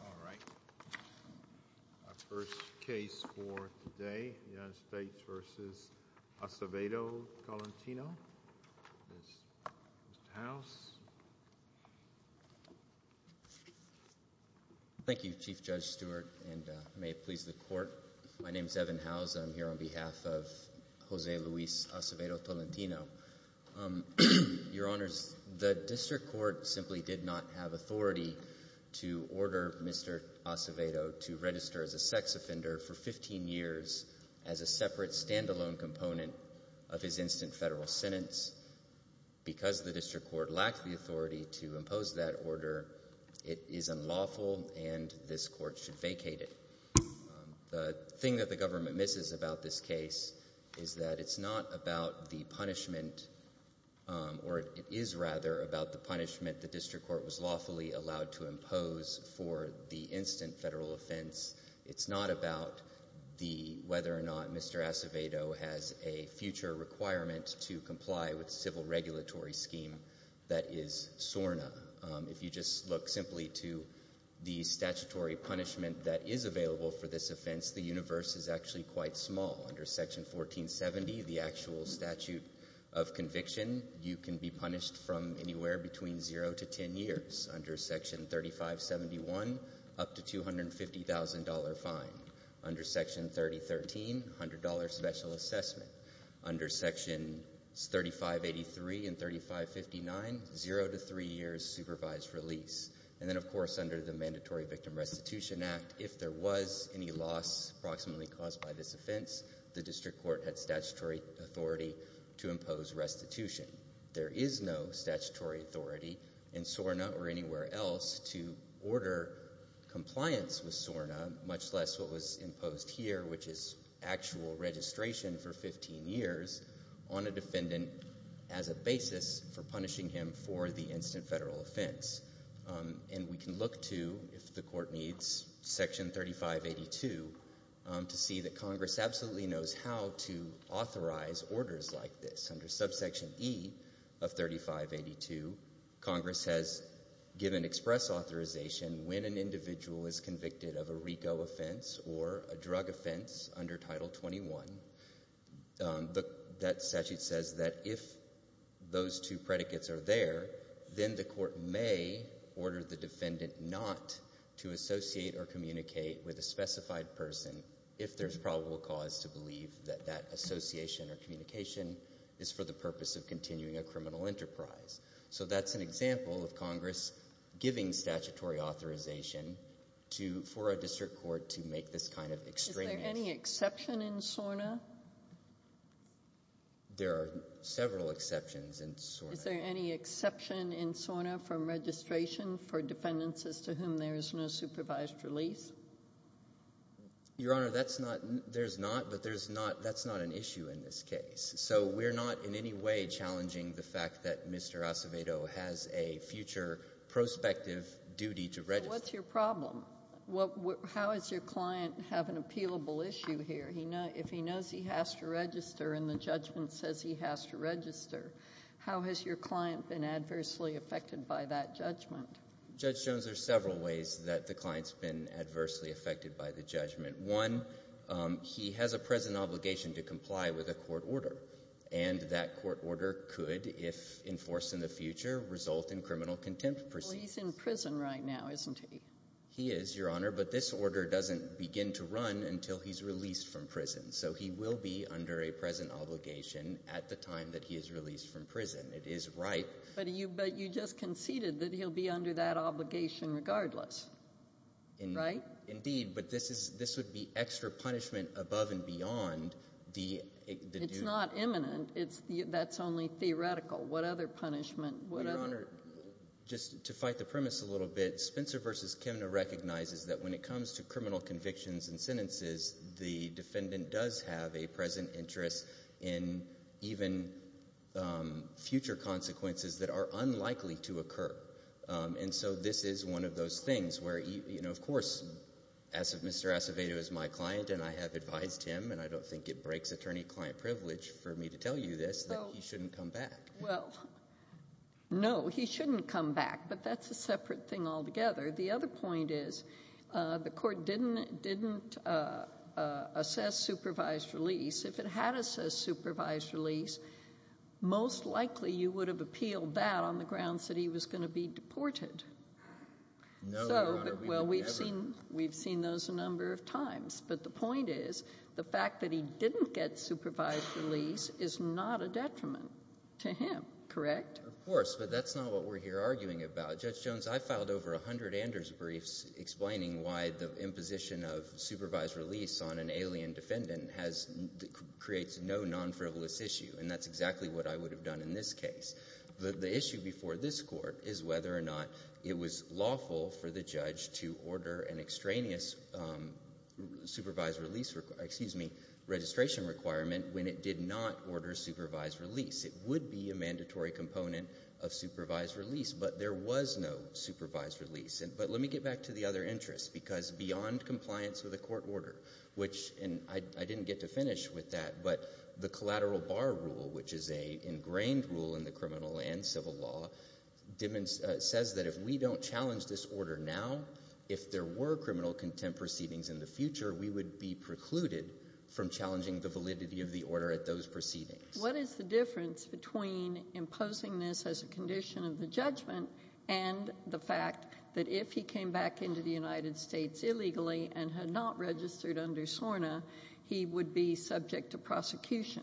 Alright, our first case for today, United States v. Acevedo-Tolentino. Mr. House. Thank you, Chief Judge Stewart, and may it please the Court. My name is Evan House. I'm here on behalf of Jose Luis Acevedo-Tolentino. Your Honors, the District Court simply did not have authority to order Mr. Acevedo to register as a sex offender for 15 years as a separate stand-alone component of his instant federal sentence. Because the District Court lacked the authority to impose that order, it is unlawful and this Court should vacate it. The thing that the government misses about this case is that it's not about the punishment or it is rather about the punishment the District Court was lawfully allowed to impose for the instant federal offense. It's not about the whether or not Mr. Acevedo has a future requirement to comply with civil regulatory scheme that is SORNA. If you just look simply to the statutory punishment that is available for this offense, the universe is actually quite small. Under Section 1470, the actual statute of conviction, you can be punished from anywhere between zero to 10 years. Under Section 3571, up to $250,000 fine. Under Section 3013, $100 special assessment. Under Sections 3583 and 3559, zero to three years supervised release. And then, of course, under the Mandatory Victim Restitution Act, if there was any loss approximately caused by this offense, the District Court had statutory authority to impose restitution. There is no statutory authority in SORNA or anywhere else to order compliance with SORNA, much less what was imposed here, which is actual registration for 15 years on a defendant as a basis for punishing him for the instant federal offense. And we can look to, if the court needs, Section 3582 to see that Congress absolutely knows how to authorize orders like this. Under Subsection E of 3582, Congress has given express authorization when an individual is convicted of a RICO offense or a drug offense under Title 21. That statute says that if those two predicates are there, then the court may order the defendant not to associate or communicate with a specified person if there's probable cause to believe that that association or communication is for the purpose of continuing a criminal enterprise. So that's an example of Congress giving statutory authorization to, for a District Court to make this kind of extremism. Is there any exception in SORNA? There are several exceptions in SORNA. Is there any exception in SORNA from registration for defendants as to whom there is no supervised release? Your Honor, that's not, there's not, but there's not, that's not an issue in this case. So we're not in any way challenging the fact that Mr. Acevedo has a future prospective duty to register. What's your problem? How does your client have an appealable issue here? If he knows he has to register and the judgment says he has to register, how has your client been adversely affected by that judgment? Judge Jones, there's several ways that the client's been adversely affected by the And that court order could, if enforced in the future, result in criminal contempt proceedings. Well, he's in prison right now, isn't he? He is, Your Honor, but this order doesn't begin to run until he's released from prison. So he will be under a present obligation at the time that he is released from prison. It is right. But you just conceded that he'll be under that obligation regardless, right? Indeed. But this is, this would be extra punishment above and beyond the due. It's not imminent. It's the, that's only theoretical. What other punishment? Your Honor, just to fight the premise a little bit, Spencer v. Kimna recognizes that when it comes to criminal convictions and sentences, the defendant does have a present interest in even future consequences that are unlikely to occur. And so this is one of those things where, you know, of course, Mr. Acevedo is my client and I have advised him, and I don't think it breaks attorney-client privilege, for me to tell you this, that he shouldn't come back. Well, no, he shouldn't come back, but that's a separate thing altogether. The other point is the court didn't, didn't assess supervised release. If it had assessed supervised release, most likely you would have appealed that on the grounds that he was going to be deported. No, Your Honor, we don't ever. So, but, well, we've seen, we've seen those a number of times. But the point is, the fact that he didn't get supervised release is not a detriment to him, correct? Of course, but that's not what we're here arguing about. Judge Jones, I filed over 100 Anders briefs explaining why the imposition of supervised release on an alien defendant has, creates no non-frivolous issue. And that's exactly what I would have done in this case. The issue before this Court is whether or not it was lawful for the judge to order an extraneous supervised release, excuse me, registration requirement when it did not order supervised release. It would be a mandatory component of supervised release, but there was no supervised release. But let me get back to the other interest, because beyond compliance with the court order, which, and I didn't get to finish with that, but the collateral bar rule, which is a ingrained rule in the criminal and civil law, says that if we don't challenge this order now, if there were criminal contempt proceedings in the future, we would be precluded from challenging the validity of the order at those proceedings. What is the difference between imposing this as a condition of the judgment and the fact that if he came back into the United States illegally and had not registered under SORNA, he would be subject to prosecution?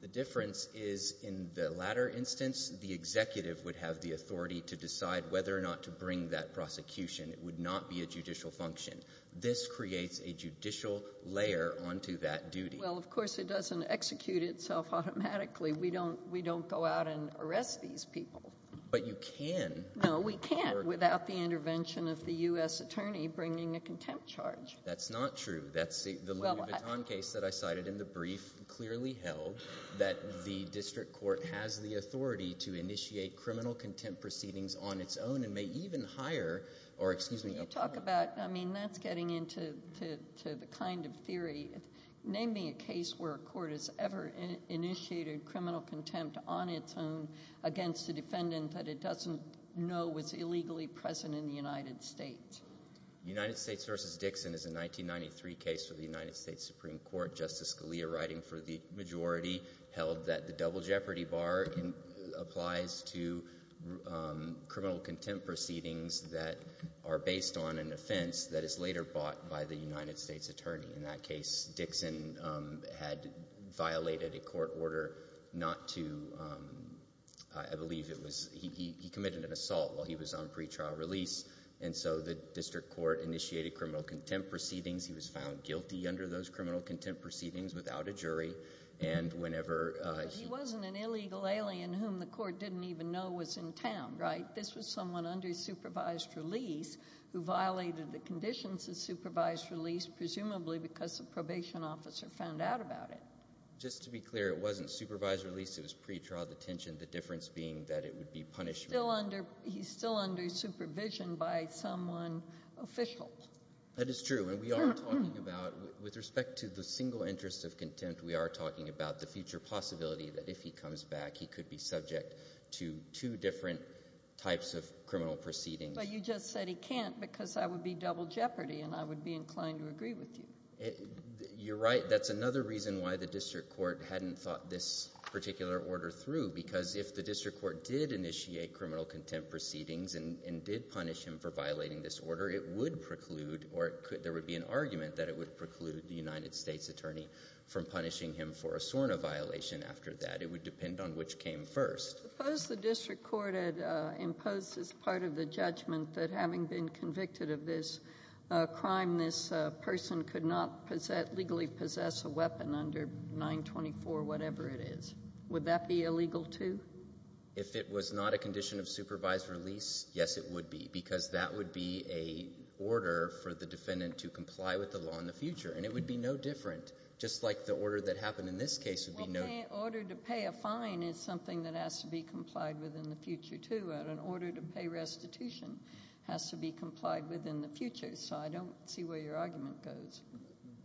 The difference is in the latter instance, the executive would have the authority to decide whether or not to bring that prosecution. It would not be a judicial function. This creates a judicial layer onto that duty. Well, of course, it doesn't execute itself automatically. We don't go out and arrest these people. But you can. No, we can't without the intervention of the U.S. attorney bringing a contempt charge. That's not true. That's the Louis Vuitton case that I cited in the brief clearly held that the district court has the authority to initiate criminal contempt proceedings on its own and may even hire, or excuse me- Talk about, I mean, that's getting into the kind of theory. Name me a case where a court has ever initiated criminal contempt on its own against a defendant that it doesn't know was illegally present in the United States. United States versus Dixon is a 1993 case for the United States Supreme Court. Justice Scalia writing for the majority held that the double jeopardy bar applies to criminal contempt proceedings that are based on an offense that is later bought by the United States attorney. In that case, Dixon had violated a court order not to, I believe it was, he committed an assault while he was on pretrial release. And so the district court initiated criminal contempt proceedings. He was found guilty under those criminal contempt proceedings without a jury. And whenever- But he wasn't an illegal alien whom the court didn't even know was in town, right? This was someone under supervised release who violated the conditions of supervised release, presumably because the probation officer found out about it. Just to be clear, it wasn't supervised release, it was pretrial detention. The difference being that it would be punished- He's still under supervision by someone official. That is true, and we are talking about, with respect to the single interest of contempt, we are talking about the future possibility that if he comes back, he could be subject to two different types of criminal proceedings. But you just said he can't because that would be double jeopardy, and I would be inclined to agree with you. You're right, that's another reason why the district court hadn't thought this particular order through. Because if the district court did initiate criminal contempt proceedings and did punish him for violating this order, it would preclude, or there would be an argument that it would preclude the United States attorney from punishing him for a SORNA violation after that. It would depend on which came first. Suppose the district court had imposed as part of the judgment that having been convicted of this crime, this person could not legally possess a weapon under 924, whatever it is. Would that be illegal, too? If it was not a condition of supervised release, yes, it would be, because that would be a order for the defendant to comply with the law in the future, and it would be no different. Just like the order that happened in this case would be no- Order to pay a fine is something that has to be complied with in the future, too, and an order to pay restitution has to be complied with in the future, so I don't see where your argument goes.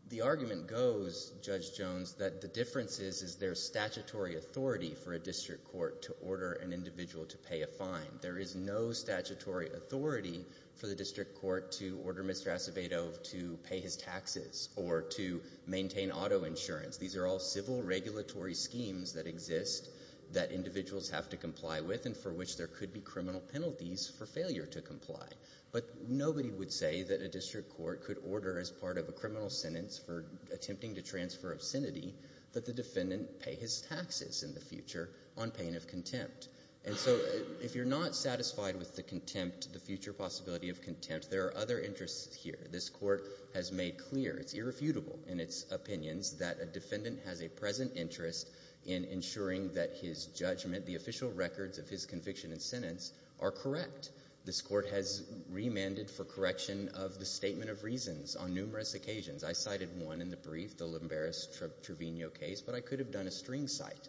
The argument goes, Judge Jones, that the difference is there's statutory authority for a district court to order an individual to pay a fine. There is no statutory authority for the district court to order Mr. Acevedo to pay his taxes or to maintain auto insurance. These are all civil regulatory schemes that exist that individuals have to comply with and for which there could be criminal penalties for failure to comply. But nobody would say that a district court could order, as part of a criminal sentence for attempting to transfer obscenity, that the defendant pay his taxes in the future on pain of contempt. And so if you're not satisfied with the contempt, the future possibility of contempt, there are other interests here. This court has made clear, it's irrefutable in its opinions, that a defendant has a present interest in ensuring that his judgment, the official records of his conviction and sentence, are correct. This court has remanded for correction of the statement of reasons on numerous occasions. I cited one in the brief, the Lombaris-Trevino case, but I could have done a string cite.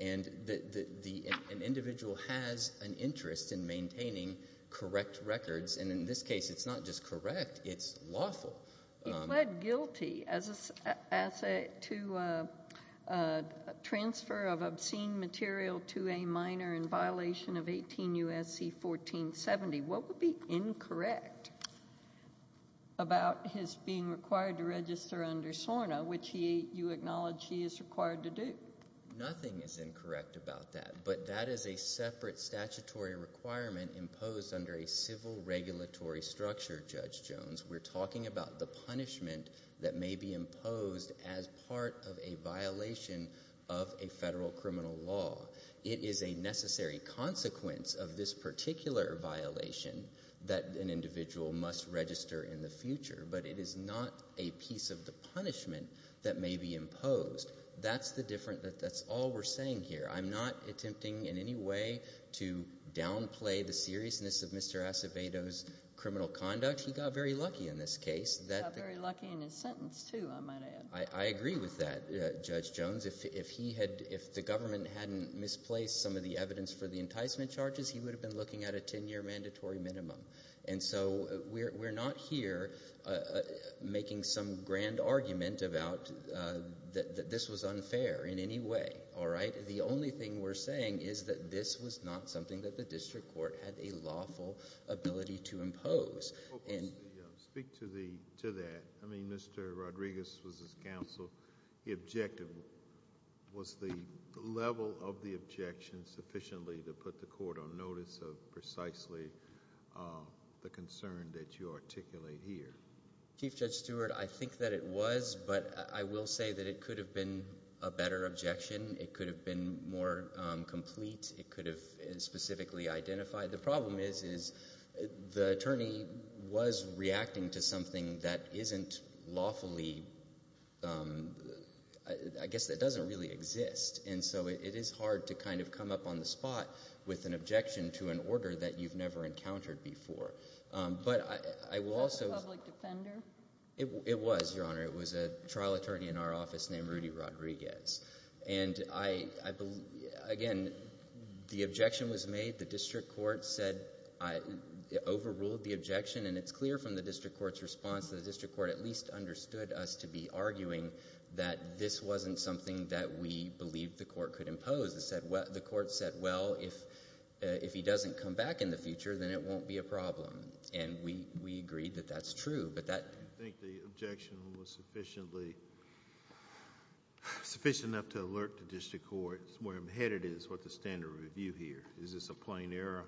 And an individual has an interest in maintaining correct records. And in this case, it's not just correct, it's lawful. He pled guilty as a asset to a transfer of obscene material to a minor in violation of 18 U.S.C. 1470. What would be incorrect about his being required to register under SORNA, which you acknowledge he is required to do? Nothing is incorrect about that, but that is a separate statutory requirement imposed under a civil regulatory structure, Judge Jones. We're talking about the punishment that may be imposed as part of a violation of a federal criminal law. It is a necessary consequence of this particular violation that an individual must register in the future, but it is not a piece of the punishment that may be imposed. That's the difference, that's all we're saying here. I'm not attempting in any way to downplay the seriousness of Mr. Acevedo's criminal conduct. He got very lucky in this case. He got very lucky in his sentence, too, I might add. I agree with that, Judge Jones. If he had, if the government hadn't misplaced some of the evidence for the enticement charges, he would have been looking at a ten year mandatory minimum. And so we're not here making some grand argument about that this was unfair in any way, all right? But the only thing we're saying is that this was not something that the district court had a lawful ability to impose. And- Speak to that. I mean, Mr. Rodriguez was his counsel. The objective was the level of the objection sufficiently to put the court on notice of precisely the concern that you articulate here. Chief Judge Stewart, I think that it was, but I will say that it could have been a better objection. It could have been more complete. It could have specifically identified. The problem is, is the attorney was reacting to something that isn't lawfully, I guess that doesn't really exist. And so it is hard to kind of come up on the spot with an objection to an order that you've never encountered before. But I will also- Was it a public defender? It was, Your Honor. It was a trial attorney in our office named Rudy Rodriguez. And I believe, again, the objection was made. The district court said, overruled the objection. And it's clear from the district court's response that the district court at least understood us to be arguing that this wasn't something that we believed the court could impose. The court said, well, if he doesn't come back in the future, then it won't be a problem. And we agreed that that's true. But that- I don't know if that information was sufficiently enough to alert the district court where I'm headed is what the standard review here. Is this a plain error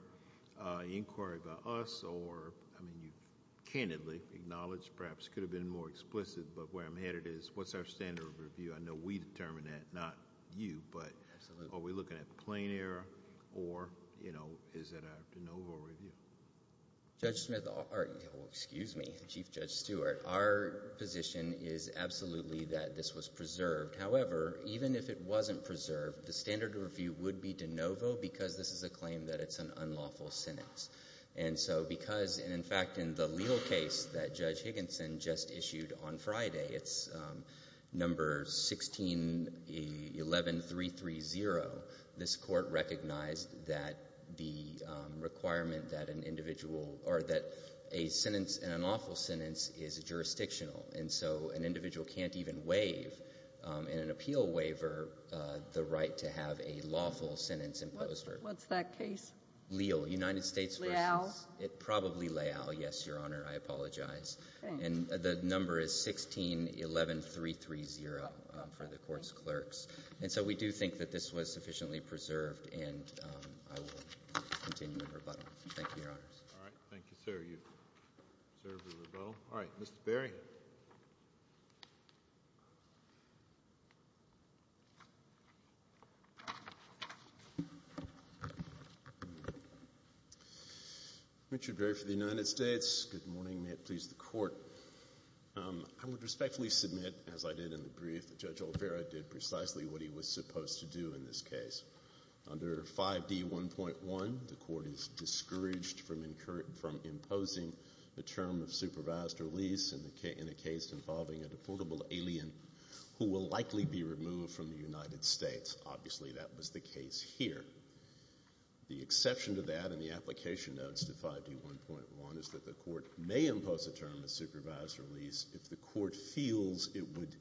inquiry about us or, I mean, you've candidly acknowledged, perhaps could have been more explicit, but where I'm headed is what's our standard review? I know we determined that, not you, but are we looking at plain error or is it a de novo review? Judge Smith, or excuse me, Chief Judge Stewart, our position is absolutely that this was preserved. However, even if it wasn't preserved, the standard review would be de novo because this is a claim that it's an unlawful sentence. And so because, and in fact, in the legal case that Judge Higginson just issued on Friday, it's number 1611330, this court recognized that the requirement that an individual, or that a sentence, an unlawful sentence is jurisdictional. And so an individual can't even waive, in an appeal waiver, the right to have a lawful sentence imposed. What's that case? Leal, United States versus- Leal. It's probably Leal, yes, Your Honor, I apologize. And the number is 1611330 for the court's clerks. And so we do think that this was sufficiently preserved, and I will continue the rebuttal. Thank you, Your Honors. All right, thank you, sir. You've served the rebuttal. All right, Mr. Berry. Richard Berry for the United States. Good morning. May it please the Court. I would respectfully submit, as I did in the brief, that Judge O'Farrill did precisely what he was supposed to do in this case. Under 5D1.1, the court is discouraged from imposing the term of supervised release in a case involving a deportable alien, who will likely be removed from the United States. Obviously, that was the case here. The exception to that in the application notes to 5D1.1 is that the court may impose a term of supervised release if the court feels it would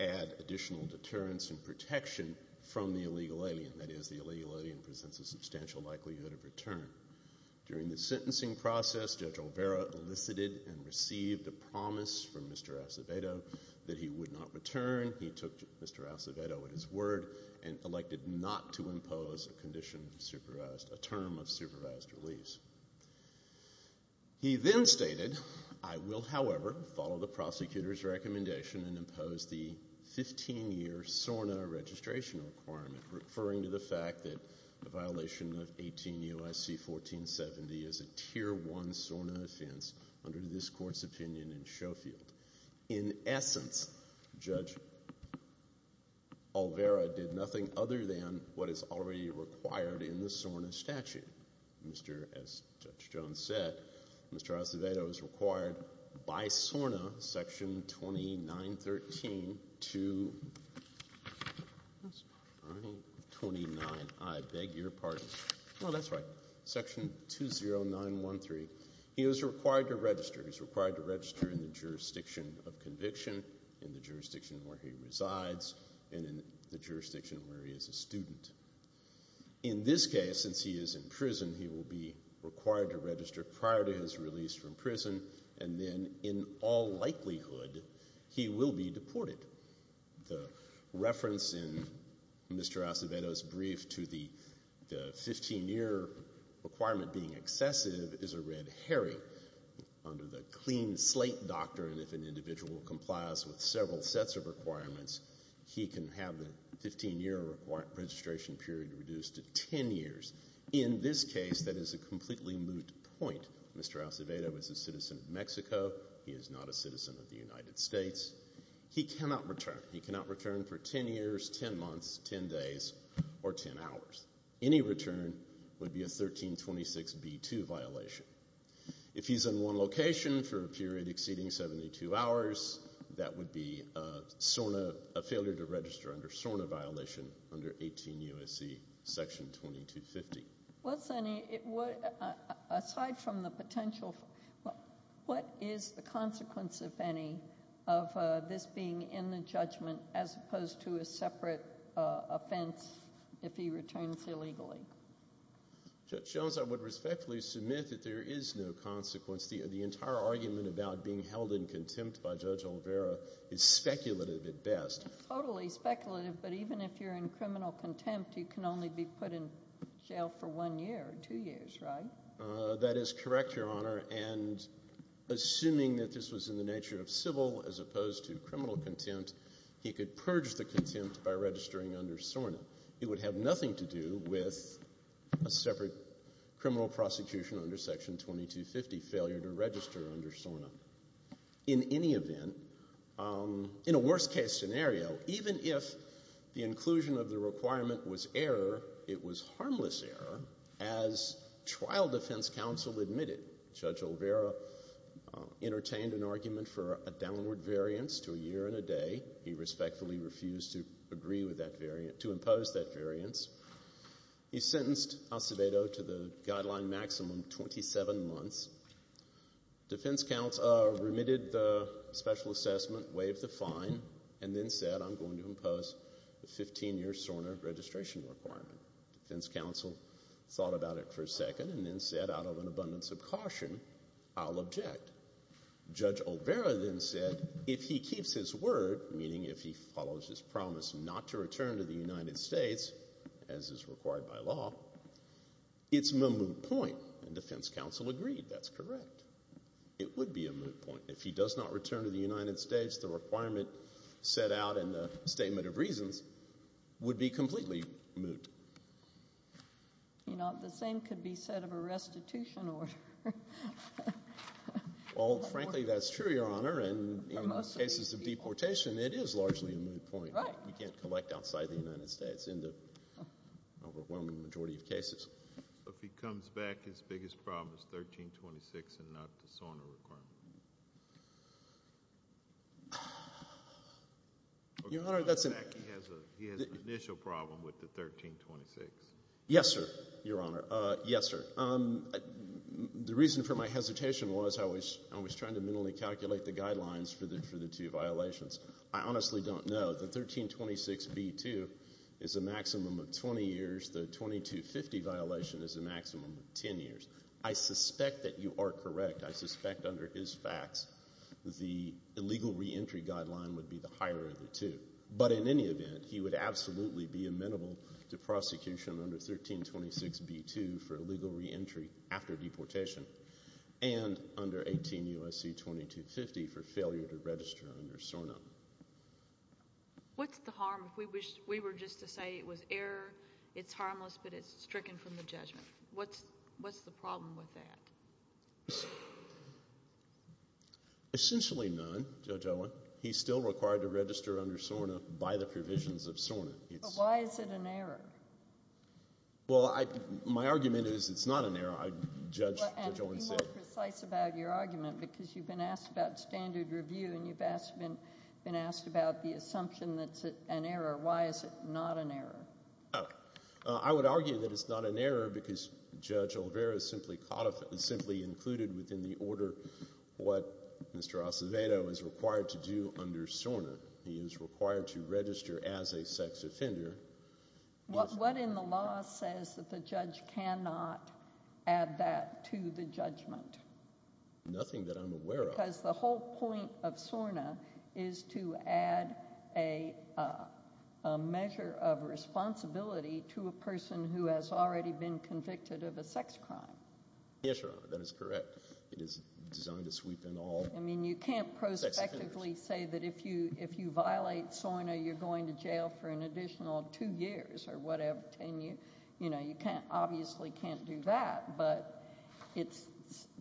add additional deterrence and protection from the illegal alien. That is, the illegal alien presents a substantial likelihood of return. During the sentencing process, Judge Olvera elicited and received a promise from Mr. Acevedo that he would not return. He took Mr. Acevedo at his word and elected not to impose a term of supervised release. He then stated, I will, however, follow the prosecutor's recommendation and impose the 15-year SORNA registration requirement, referring to the fact that a violation of 18 UIC 1470 is a tier one SORNA offense under this court's opinion in Sheffield. In essence, Judge Olvera did nothing other than what is already required in the SORNA statute. Mr., as Judge Jones said, Mr. Acevedo is required by SORNA section 2913 to. That's not right. 29, I beg your pardon. No, that's right. Section 20913. He is required to register. He's required to register in the jurisdiction of conviction, in the jurisdiction where he resides, and in the jurisdiction where he is a student. In this case, since he is in prison, he will be required to register prior to his release from prison. And then, in all likelihood, he will be deported. The reference in Mr. Acevedo's brief to the 15-year requirement being excessive is a red herring. Under the clean slate doctrine, if an individual complies with several sets of requirements, he can have the 15-year registration period reduced to ten years. In this case, that is a completely moot point. Mr. Acevedo is a citizen of Mexico. He is not a citizen of the United States. He cannot return. He cannot return for ten years, ten months, ten days, or ten hours. Any return would be a 1326B2 violation. If he's in one location for a period exceeding 72 hours, that would be a SORNA, a failure to register under SORNA violation under 18 U.S.C. Section 2250. Well, Sonny, aside from the potential, what is the consequence, if any, of this being in the judgment as opposed to a separate offense if he returns illegally? Judge Jones, I would respectfully submit that there is no consequence. The entire argument about being held in contempt by Judge Olvera is speculative at best. Totally speculative, but even if you're in criminal contempt, you can only be put in jail for one year, two years, right? That is correct, Your Honor, and assuming that this was in the nature of civil as opposed to criminal contempt, he could purge the contempt by registering under SORNA. It would have nothing to do with a separate criminal prosecution under Section 2250 failure to register under SORNA. In any event, in a worst-case scenario, even if the inclusion of the requirement was error, it was harmless error as trial defense counsel admitted. Judge Olvera entertained an argument for a downward variance to a year and a day. He respectfully refused to agree with that variant, to impose that variance. He sentenced Acevedo to the guideline maximum 27 months. Defense counsel remitted the special assessment, waived the fine, and then said, I'm going to impose the 15-year SORNA registration requirement. Defense counsel thought about it for a second and then said, out of an abundance of caution, I'll object. Judge Olvera then said, if he keeps his word, meaning if he follows his promise not to return to the United States, as is required by law, it's a moot point. And defense counsel agreed, that's correct. It would be a moot point. If he does not return to the United States, the requirement set out in the Statement of Reasons would be completely moot. You know, the same could be said of a restitution order. Well, frankly, that's true, Your Honor, and in cases of deportation, it is largely a moot point. Right. You can't collect outside the United States in the overwhelming majority of cases. If he comes back, his biggest problem is 1326 and not the SORNA requirement. Your Honor, that's an issue problem with the 1326. Yes, sir, Your Honor. Yes, sir. The reason for my hesitation was I was trying to mentally calculate the guidelines for the two violations. I honestly don't know. The 1326B2 is a maximum of 20 years. The 2250 violation is a maximum of 10 years. I suspect that you are correct. I suspect under his facts, the illegal reentry guideline would be the higher of the two. But in any event, he would absolutely be amenable to prosecution under 1326B2 for illegal reentry after deportation and under 18 U.S.C. 2250 for failure to register under SORNA. What's the harm if we were just to say it was error, it's harmless, but it's stricken from the judgment? What's the problem with that? Essentially none, Judge Owen. He's still required to register under SORNA by the provisions of SORNA. But why is it an error? Well, my argument is it's not an error. I, Judge Owen, said. Well, and be more precise about your argument because you've been asked about standard review and you've been asked about the assumption that it's an error. Why is it not an error? I would argue that it's not an error because Judge Olvera simply included within the order what Mr. Acevedo is required to do under SORNA. He is required to register as a sex offender. What in the law says that the judge cannot add that to the judgment? Nothing that I'm aware of. Because the whole point of SORNA is to add a measure of responsibility to a person who has already been convicted of a sex crime. Yes, Your Honor, that is correct. It is designed to sweep in all sex offenders. I mean, you can't prospectively say that if you violate SORNA, you're going to jail for an additional two years or whatever, and you obviously can't do that. But it's,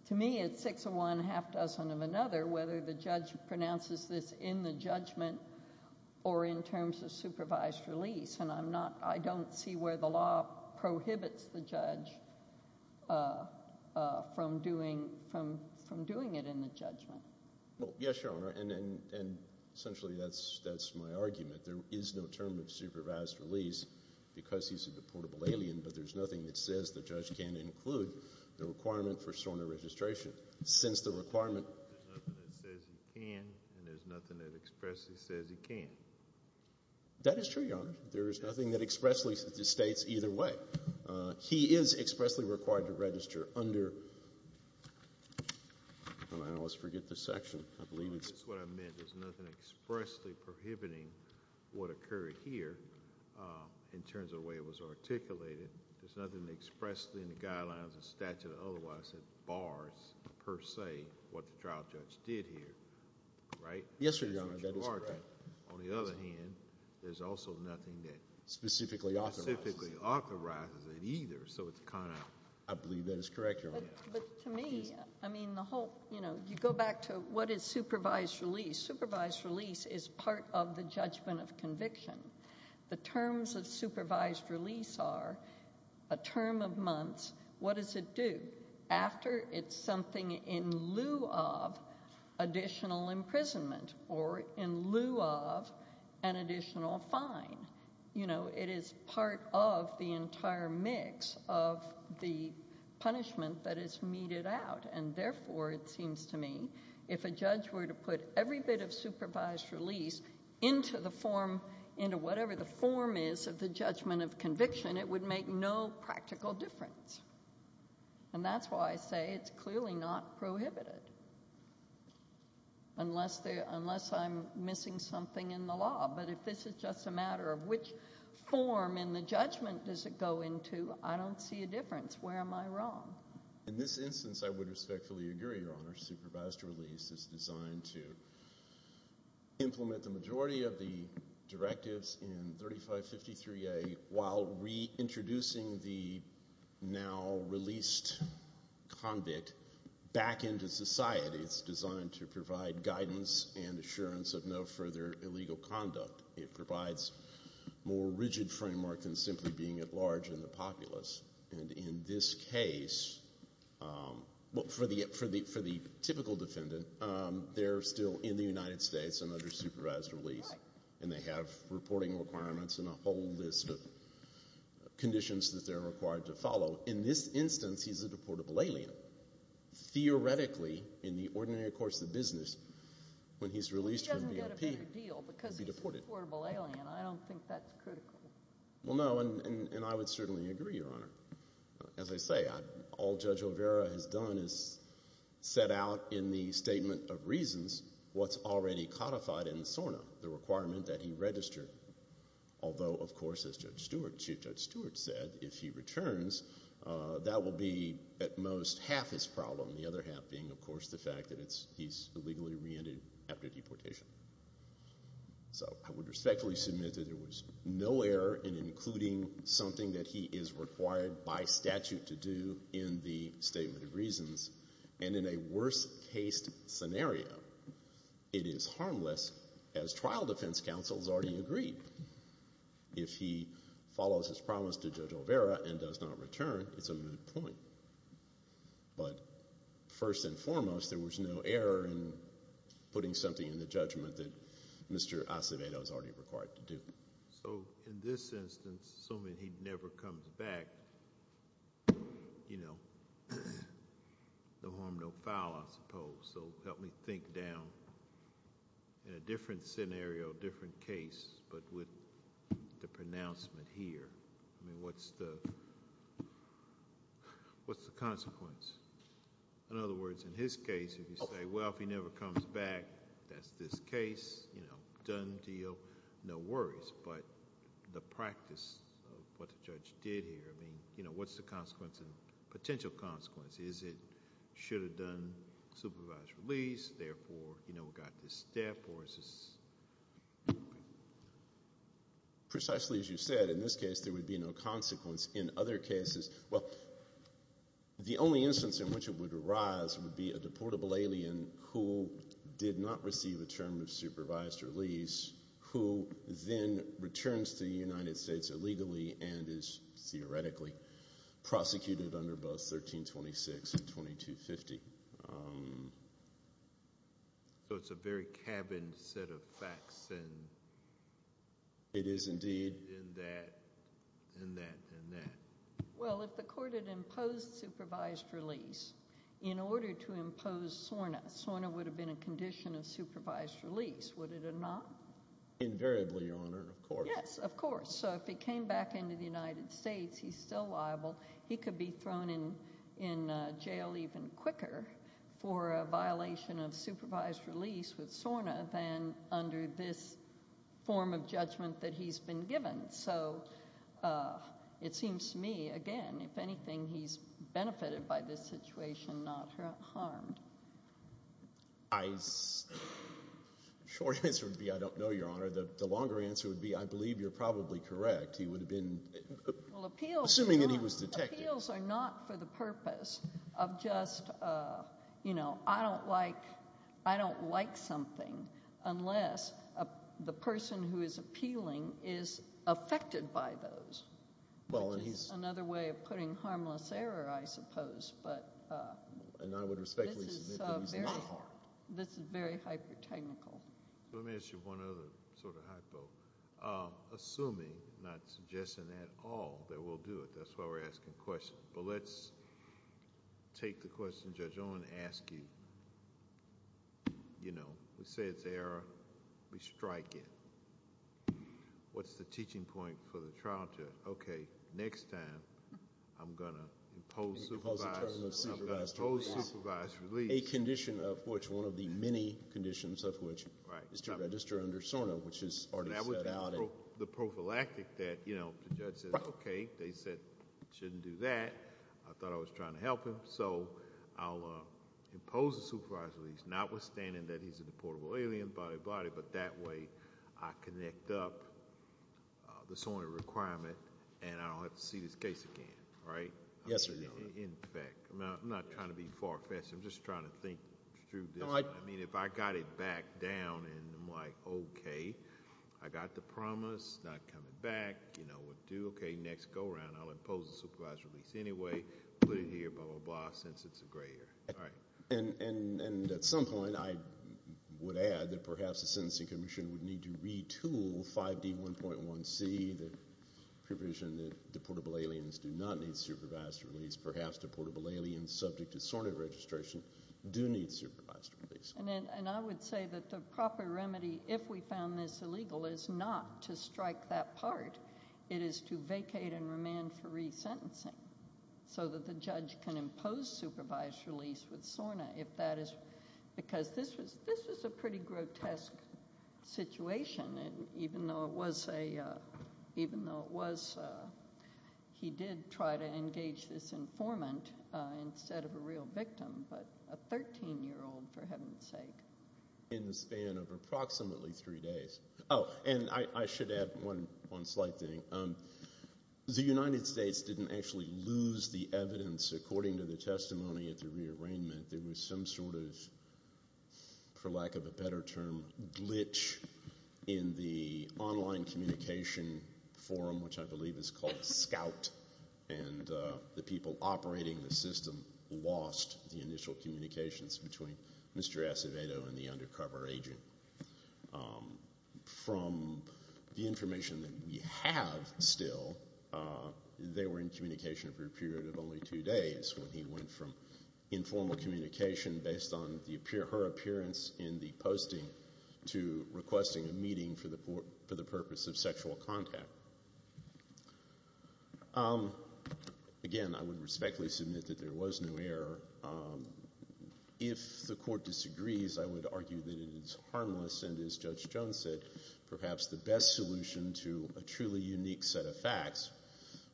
to me, it's six of one, half dozen of another, whether the judge pronounces this in the judgment or in terms of supervised release. And I'm not, I don't see where the law prohibits the judge from doing it in the judgment. Well, yes, Your Honor, and essentially that's my argument. There is no term of supervised release because he's a deportable alien, but there's nothing that says the judge can't include the requirement for SORNA registration, since the requirement. There's nothing that says he can, and there's nothing that expressly says he can. That is true, Your Honor. There is nothing that expressly states either way. He is expressly required to register under, I don't know, I always forget this section. I believe it's. That's what I meant. There's nothing expressly prohibiting what occurred here in terms of the way it was articulated. There's nothing expressly in the guidelines of statute that otherwise bars per se what the trial judge did here, right? Yes, Your Honor, that is correct. On the other hand, there's also nothing that specifically authorizes it either, so it's kind of. I believe that is correct, Your Honor. But to me, I mean, the whole, you know, you go back to what is supervised release. Supervised release is part of the judgment of conviction. The terms of supervised release are a term of months. What does it do? After it's something in lieu of additional imprisonment or in lieu of an additional fine. You know, it is part of the entire mix of the punishment that is meted out. And therefore, it seems to me, if a judge were to put every bit of supervised release into the form, into whatever the form is of the judgment of conviction, it would make no practical difference. And that's why I say it's clearly not prohibited unless I'm missing something in the law. But if this is just a matter of which form in the judgment does it go into, Where am I wrong? In this instance, I would respectfully agree, Your Honor. Supervised release is designed to implement the majority of the directives in 3553A while reintroducing the now released convict back into society. It's designed to provide guidance and assurance of no further illegal conduct. It provides more rigid framework than simply being at large in the populace. And in this case, for the typical defendant, they're still in the United States and under supervised release, and they have reporting requirements and a whole list of conditions that they're required to follow. In this instance, he's a deportable alien. Theoretically, in the ordinary course of business, when he's released from the MP, he'd be deported. He doesn't get a bigger deal because he's a deportable alien. I don't think that's critical. Well, no, and I would certainly agree, Your Honor. As I say, all Judge O'Vera has done is set out in the Statement of Reasons what's already codified in SORNA, the requirement that he register. Although, of course, as Chief Judge Stewart said, if he returns, that will be, at most, half his problem, the other half being, of course, the fact that he's illegally reentered after deportation. So I would respectfully submit that there was no error in including something that he is required by statute to do in the Statement of Reasons. And in a worst-case scenario, it is harmless, as trial defense counsels already agreed. If he follows his promise to Judge O'Vera and does not return, it's a moot point. But first and foremost, there was no error in putting something in the judgment that Mr. Acevedo is already required to do. So in this instance, assuming he never comes back, you know, no harm, no foul, I suppose. So help me think down, in a different scenario, different case, but with the pronouncement here. I mean, what's the consequence? In other words, in his case, if you say, well, if he never comes back, that's this case, you know, done deal, no worries. But the practice of what the judge did here, I mean, you know, what's the consequence and potential consequence? Is it, should have done supervised release, therefore, you know, got this step, or is this? Precisely as you said, in this case, there would be no consequence. In other cases, well, the only instance in which it would arise would be a deportable alien who did not receive a term of supervised release, who then returns to the United States illegally and is theoretically prosecuted under both 1326 and 2250. So it's a very cabined set of facts, and it is indeed in that, in that, in that. Well, if the court had imposed supervised release in order to impose SORNA, SORNA would have been a condition of supervised release, would it have not? Invariably, Your Honor, of course. Yes, of course. So if he came back into the United States, he's still liable. He could be thrown in, in jail even quicker for a violation of supervised release with SORNA than under this form of judgment that he's been given. So it seems to me, again, if anything, he's benefited by this situation, not harmed. I, short answer would be I don't know, Your Honor. The longer answer would be I believe you're probably correct. He would have been, assuming that he was detected. Appeals are not for the purpose of just, you know, I don't like, I don't like something unless the person who is appealing is affected by those. Well, and he's. Another way of putting harmless error, I suppose, but. And I would respectfully submit that he's not harmed. This is very hyper technical. So let me ask you one other sort of hypo. Assuming, not suggesting at all, that we'll do it. That's why we're asking questions. But let's take the question Judge Owen asked you. You know, we say it's error. We strike it. What's the teaching point for the trial judge? Okay, next time I'm going to impose supervised, I'm going to impose supervised release. A condition of which, one of the many conditions of which is to register under SORNA, which is already set out. The prophylactic that, you know, the judge says, okay, they said shouldn't do that. I thought I was trying to help him. So I'll impose a supervised release, notwithstanding that he's a deportable alien, body to body, but that way I connect up the SORNA requirement and I don't have to see this case again, right? Yes, Your Honor. In fact, I'm not trying to be far-fetched. I'm just trying to think through this. I mean, if I got it back down and I'm like, okay, I got the promise, not coming back, you know, we'll do, okay, next go around. I'll impose a supervised release anyway, put it here, blah, blah, blah, since it's a gray area. All right. And at some point, I would add that perhaps the sentencing commission would need to retool 5D1.1c, the provision that deportable aliens do not need supervised release, perhaps deportable aliens subject to SORNA registration do need supervised release. And I would say that the proper remedy, if we found this illegal, is not to strike that part. It is to vacate and remand for resentencing so that the judge can impose supervised release with SORNA if that is, because this was a pretty grotesque situation, even though it was a, I would try to engage this informant instead of a real victim, but a 13-year-old, for heaven's sake. In the span of approximately three days. Oh, and I should add one slight thing. The United States didn't actually lose the evidence according to the testimony at the rearrangement. There was some sort of, for lack of a better term, glitch in the online communication forum, which I believe is called Scout, and the people operating the system lost the initial communications between Mr. Acevedo and the undercover agent. From the information that we have still, they were in communication for a period of only two days when he went from informal communication based on her appearance in the posting to requesting a meeting for the purpose of sexual contact. Again, I would respectfully submit that there was no error. If the court disagrees, I would argue that it is harmless, and as Judge Jones said, perhaps the best solution to a truly unique set of facts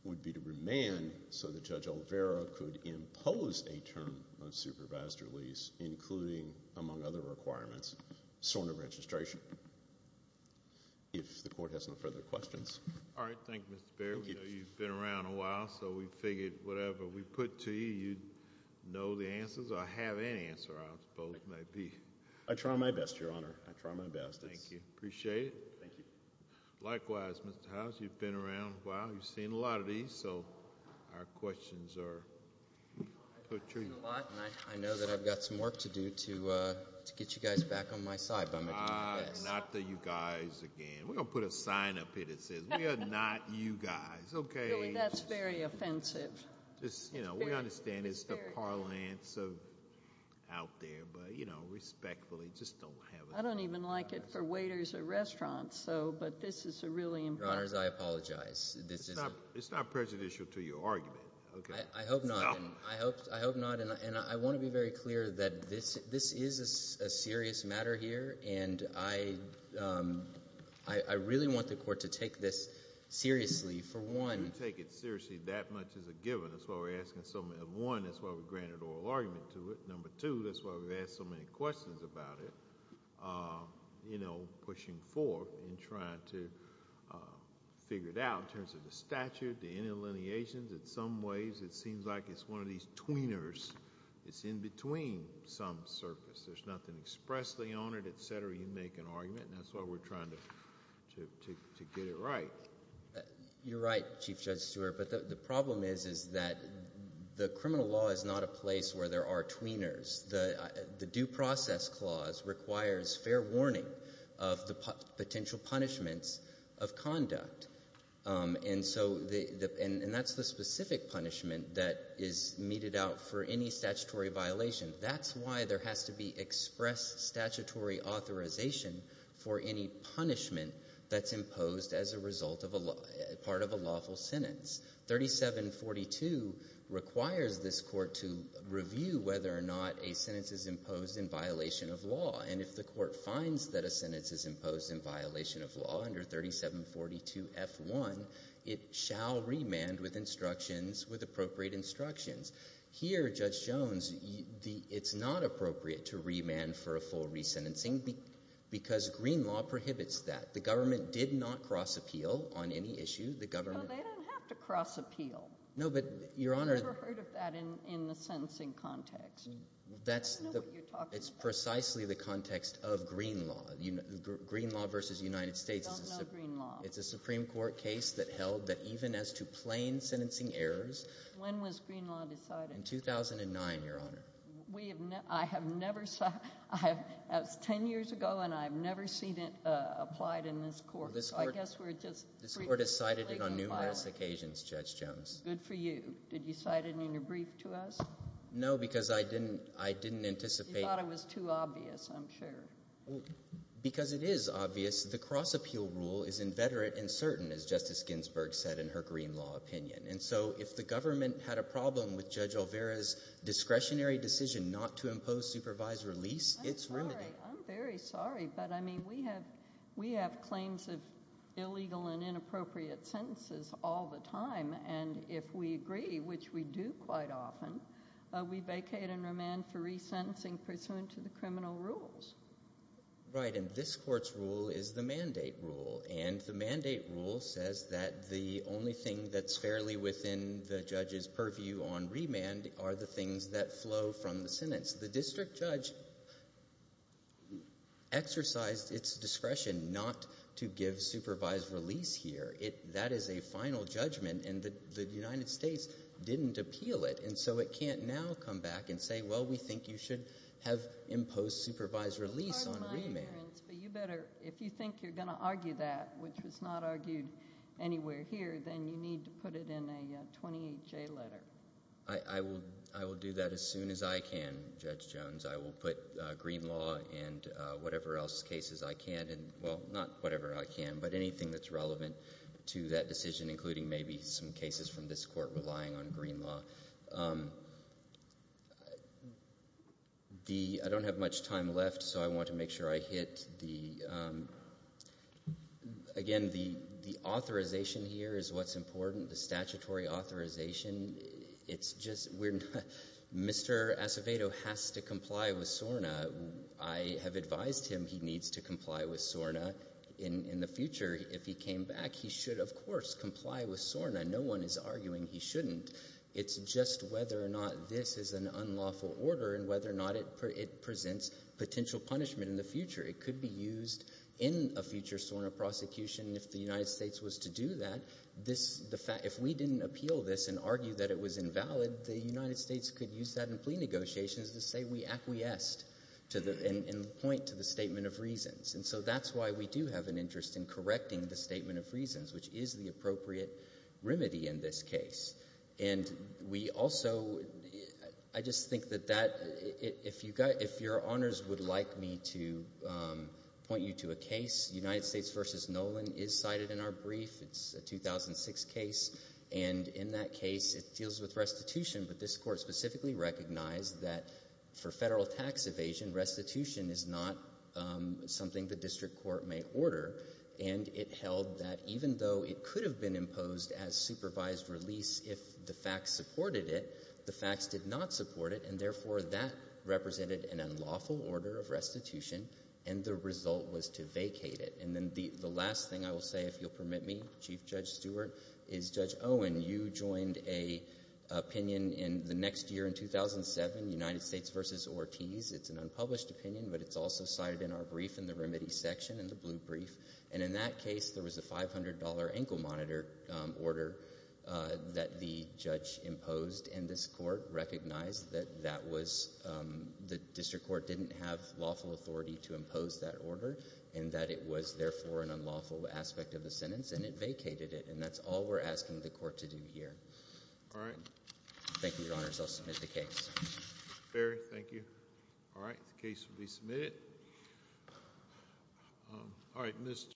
would be to remand so that Judge Olvera could impose a term of supervised release, including, among other requirements, SORNA registration. If the court has no further questions. All right. Thank you, Mr. Baird. We know you've been around a while, so we figured whatever we put to you, you'd know the answers, or have an answer, I suppose it might be. I try my best, Your Honor. I try my best. Thank you. Appreciate it. Thank you. Likewise, Mr. Howes, you've been around a while. You've seen a lot of these, so our questions are put to you. I know that I've got some work to do to get you guys back on my side, but I'm going to do my best. Not the you guys again. We're going to put a sign up here that says, we are not you guys, okay? That's very offensive. We understand it's the parlance of out there, but respectfully, just don't have it. I don't even like it for waiters at restaurants, but this is a really important- Your Honors, I apologize. It's not prejudicial to your argument. I hope not. I hope not, and I want to be very clear that this is a serious matter here, and I really want the court to take this seriously, for one- We don't take it seriously that much as a given. That's why we're asking so many- One, that's why we granted oral argument to it. Number two, that's why we've asked so many questions about it, pushing forth and trying to figure it out in terms of the statute, the in-allineations. In some ways, it seems like it's one of these tweeners. It's in between some surface. There's nothing expressly on it, et cetera. You make an argument, and that's why we're trying to get it right. You're right, Chief Judge Stewart, but the problem is, is that the criminal law is not a place where there are tweeners. The due process clause requires fair warning of the potential punishments of conduct. And so, and that's the specific punishment that is meted out for any statutory violation. That's why there has to be express statutory authorization for any punishment that's imposed as a result of a law, part of a lawful sentence. 3742 requires this court to review whether or not a sentence is imposed in violation of law. And if the court finds that a sentence is imposed in violation of law under 3742F1, it shall remand with instructions, with appropriate instructions. Here, Judge Jones, it's not appropriate to remand for a full resentencing because green law prohibits that. The government did not cross appeal on any issue. The government- No, they don't have to cross appeal. No, but your honor- I've never heard of that in the sentencing context. That's the- I don't know what you're talking about. It's precisely the context of green law, green law versus United States. I don't know green law. It's a Supreme Court case that held that even as to plain sentencing errors- When was green law decided? In 2009, your honor. We have, I have never, that was ten years ago and I've never seen it applied in this court. So I guess we're just- This court has cited it on numerous occasions, Judge Jones. Good for you. Did you cite it in your brief to us? No, because I didn't anticipate- You thought it was too obvious, I'm sure. Because it is obvious, the cross appeal rule is inveterate and certain as Justice Ginsburg said in her green law opinion. And so if the government had a problem with Judge Olvera's discretionary decision not to impose supervised release, it's remedied. I'm very sorry, but I mean, we have claims of illegal and inappropriate sentences all the time. And if we agree, which we do quite often, we vacate and put someone to the criminal rules. Right, and this court's rule is the mandate rule. And the mandate rule says that the only thing that's fairly within the judge's purview on remand are the things that flow from the sentence. The district judge exercised its discretion not to give supervised release here. That is a final judgment and the United States didn't appeal it. And so it can't now come back and say, well, we think you should have imposed supervised release on remand. But you better, if you think you're going to argue that, which was not argued anywhere here, then you need to put it in a 28-J letter. I will do that as soon as I can, Judge Jones. I will put green law and whatever else cases I can, and well, not whatever I can, but anything that's relevant to that decision, including maybe some cases from this court relying on green law. I don't have much time left, so I want to make sure I hit the, again, the authorization here is what's important, the statutory authorization. It's just, we're not, Mr. Acevedo has to comply with SORNA. I have advised him he needs to comply with SORNA. In the future, if he came back, he should, of course, comply with SORNA. No one is arguing he shouldn't. It's just whether or not this is an unlawful order and whether or not it presents potential punishment in the future. It could be used in a future SORNA prosecution. If the United States was to do that, if we didn't appeal this and argue that it was invalid, the United States could use that in plea negotiations to say we acquiesced and point to the statement of reasons. And so that's why we do have an interest in correcting the statement of reasons, which is the appropriate remedy in this case. And we also, I just think that that, if your honors would like me to point you to a case. United States versus Nolan is cited in our brief. It's a 2006 case, and in that case, it deals with restitution. But this court specifically recognized that for federal tax evasion, restitution is not something the district court may order. And it held that even though it could have been imposed as supervised release if the facts supported it, the facts did not support it, and therefore, that represented an unlawful order of restitution, and the result was to vacate it. And then the last thing I will say, if you'll permit me, Chief Judge Stewart, is Judge Owen, you joined an opinion in the next year in 2007, United States versus Ortiz. It's an unpublished opinion, but it's also cited in our brief in the remedy section in the blue brief. And in that case, there was a $500 ankle monitor order that the judge imposed. And this court recognized that that was, the district court didn't have lawful authority to impose that order. And that it was, therefore, an unlawful aspect of the sentence, and it vacated it. And that's all we're asking the court to do here. All right. Thank you, your honors. I'll submit the case. Very, thank you. All right, the case will be submitted. All right, Mr.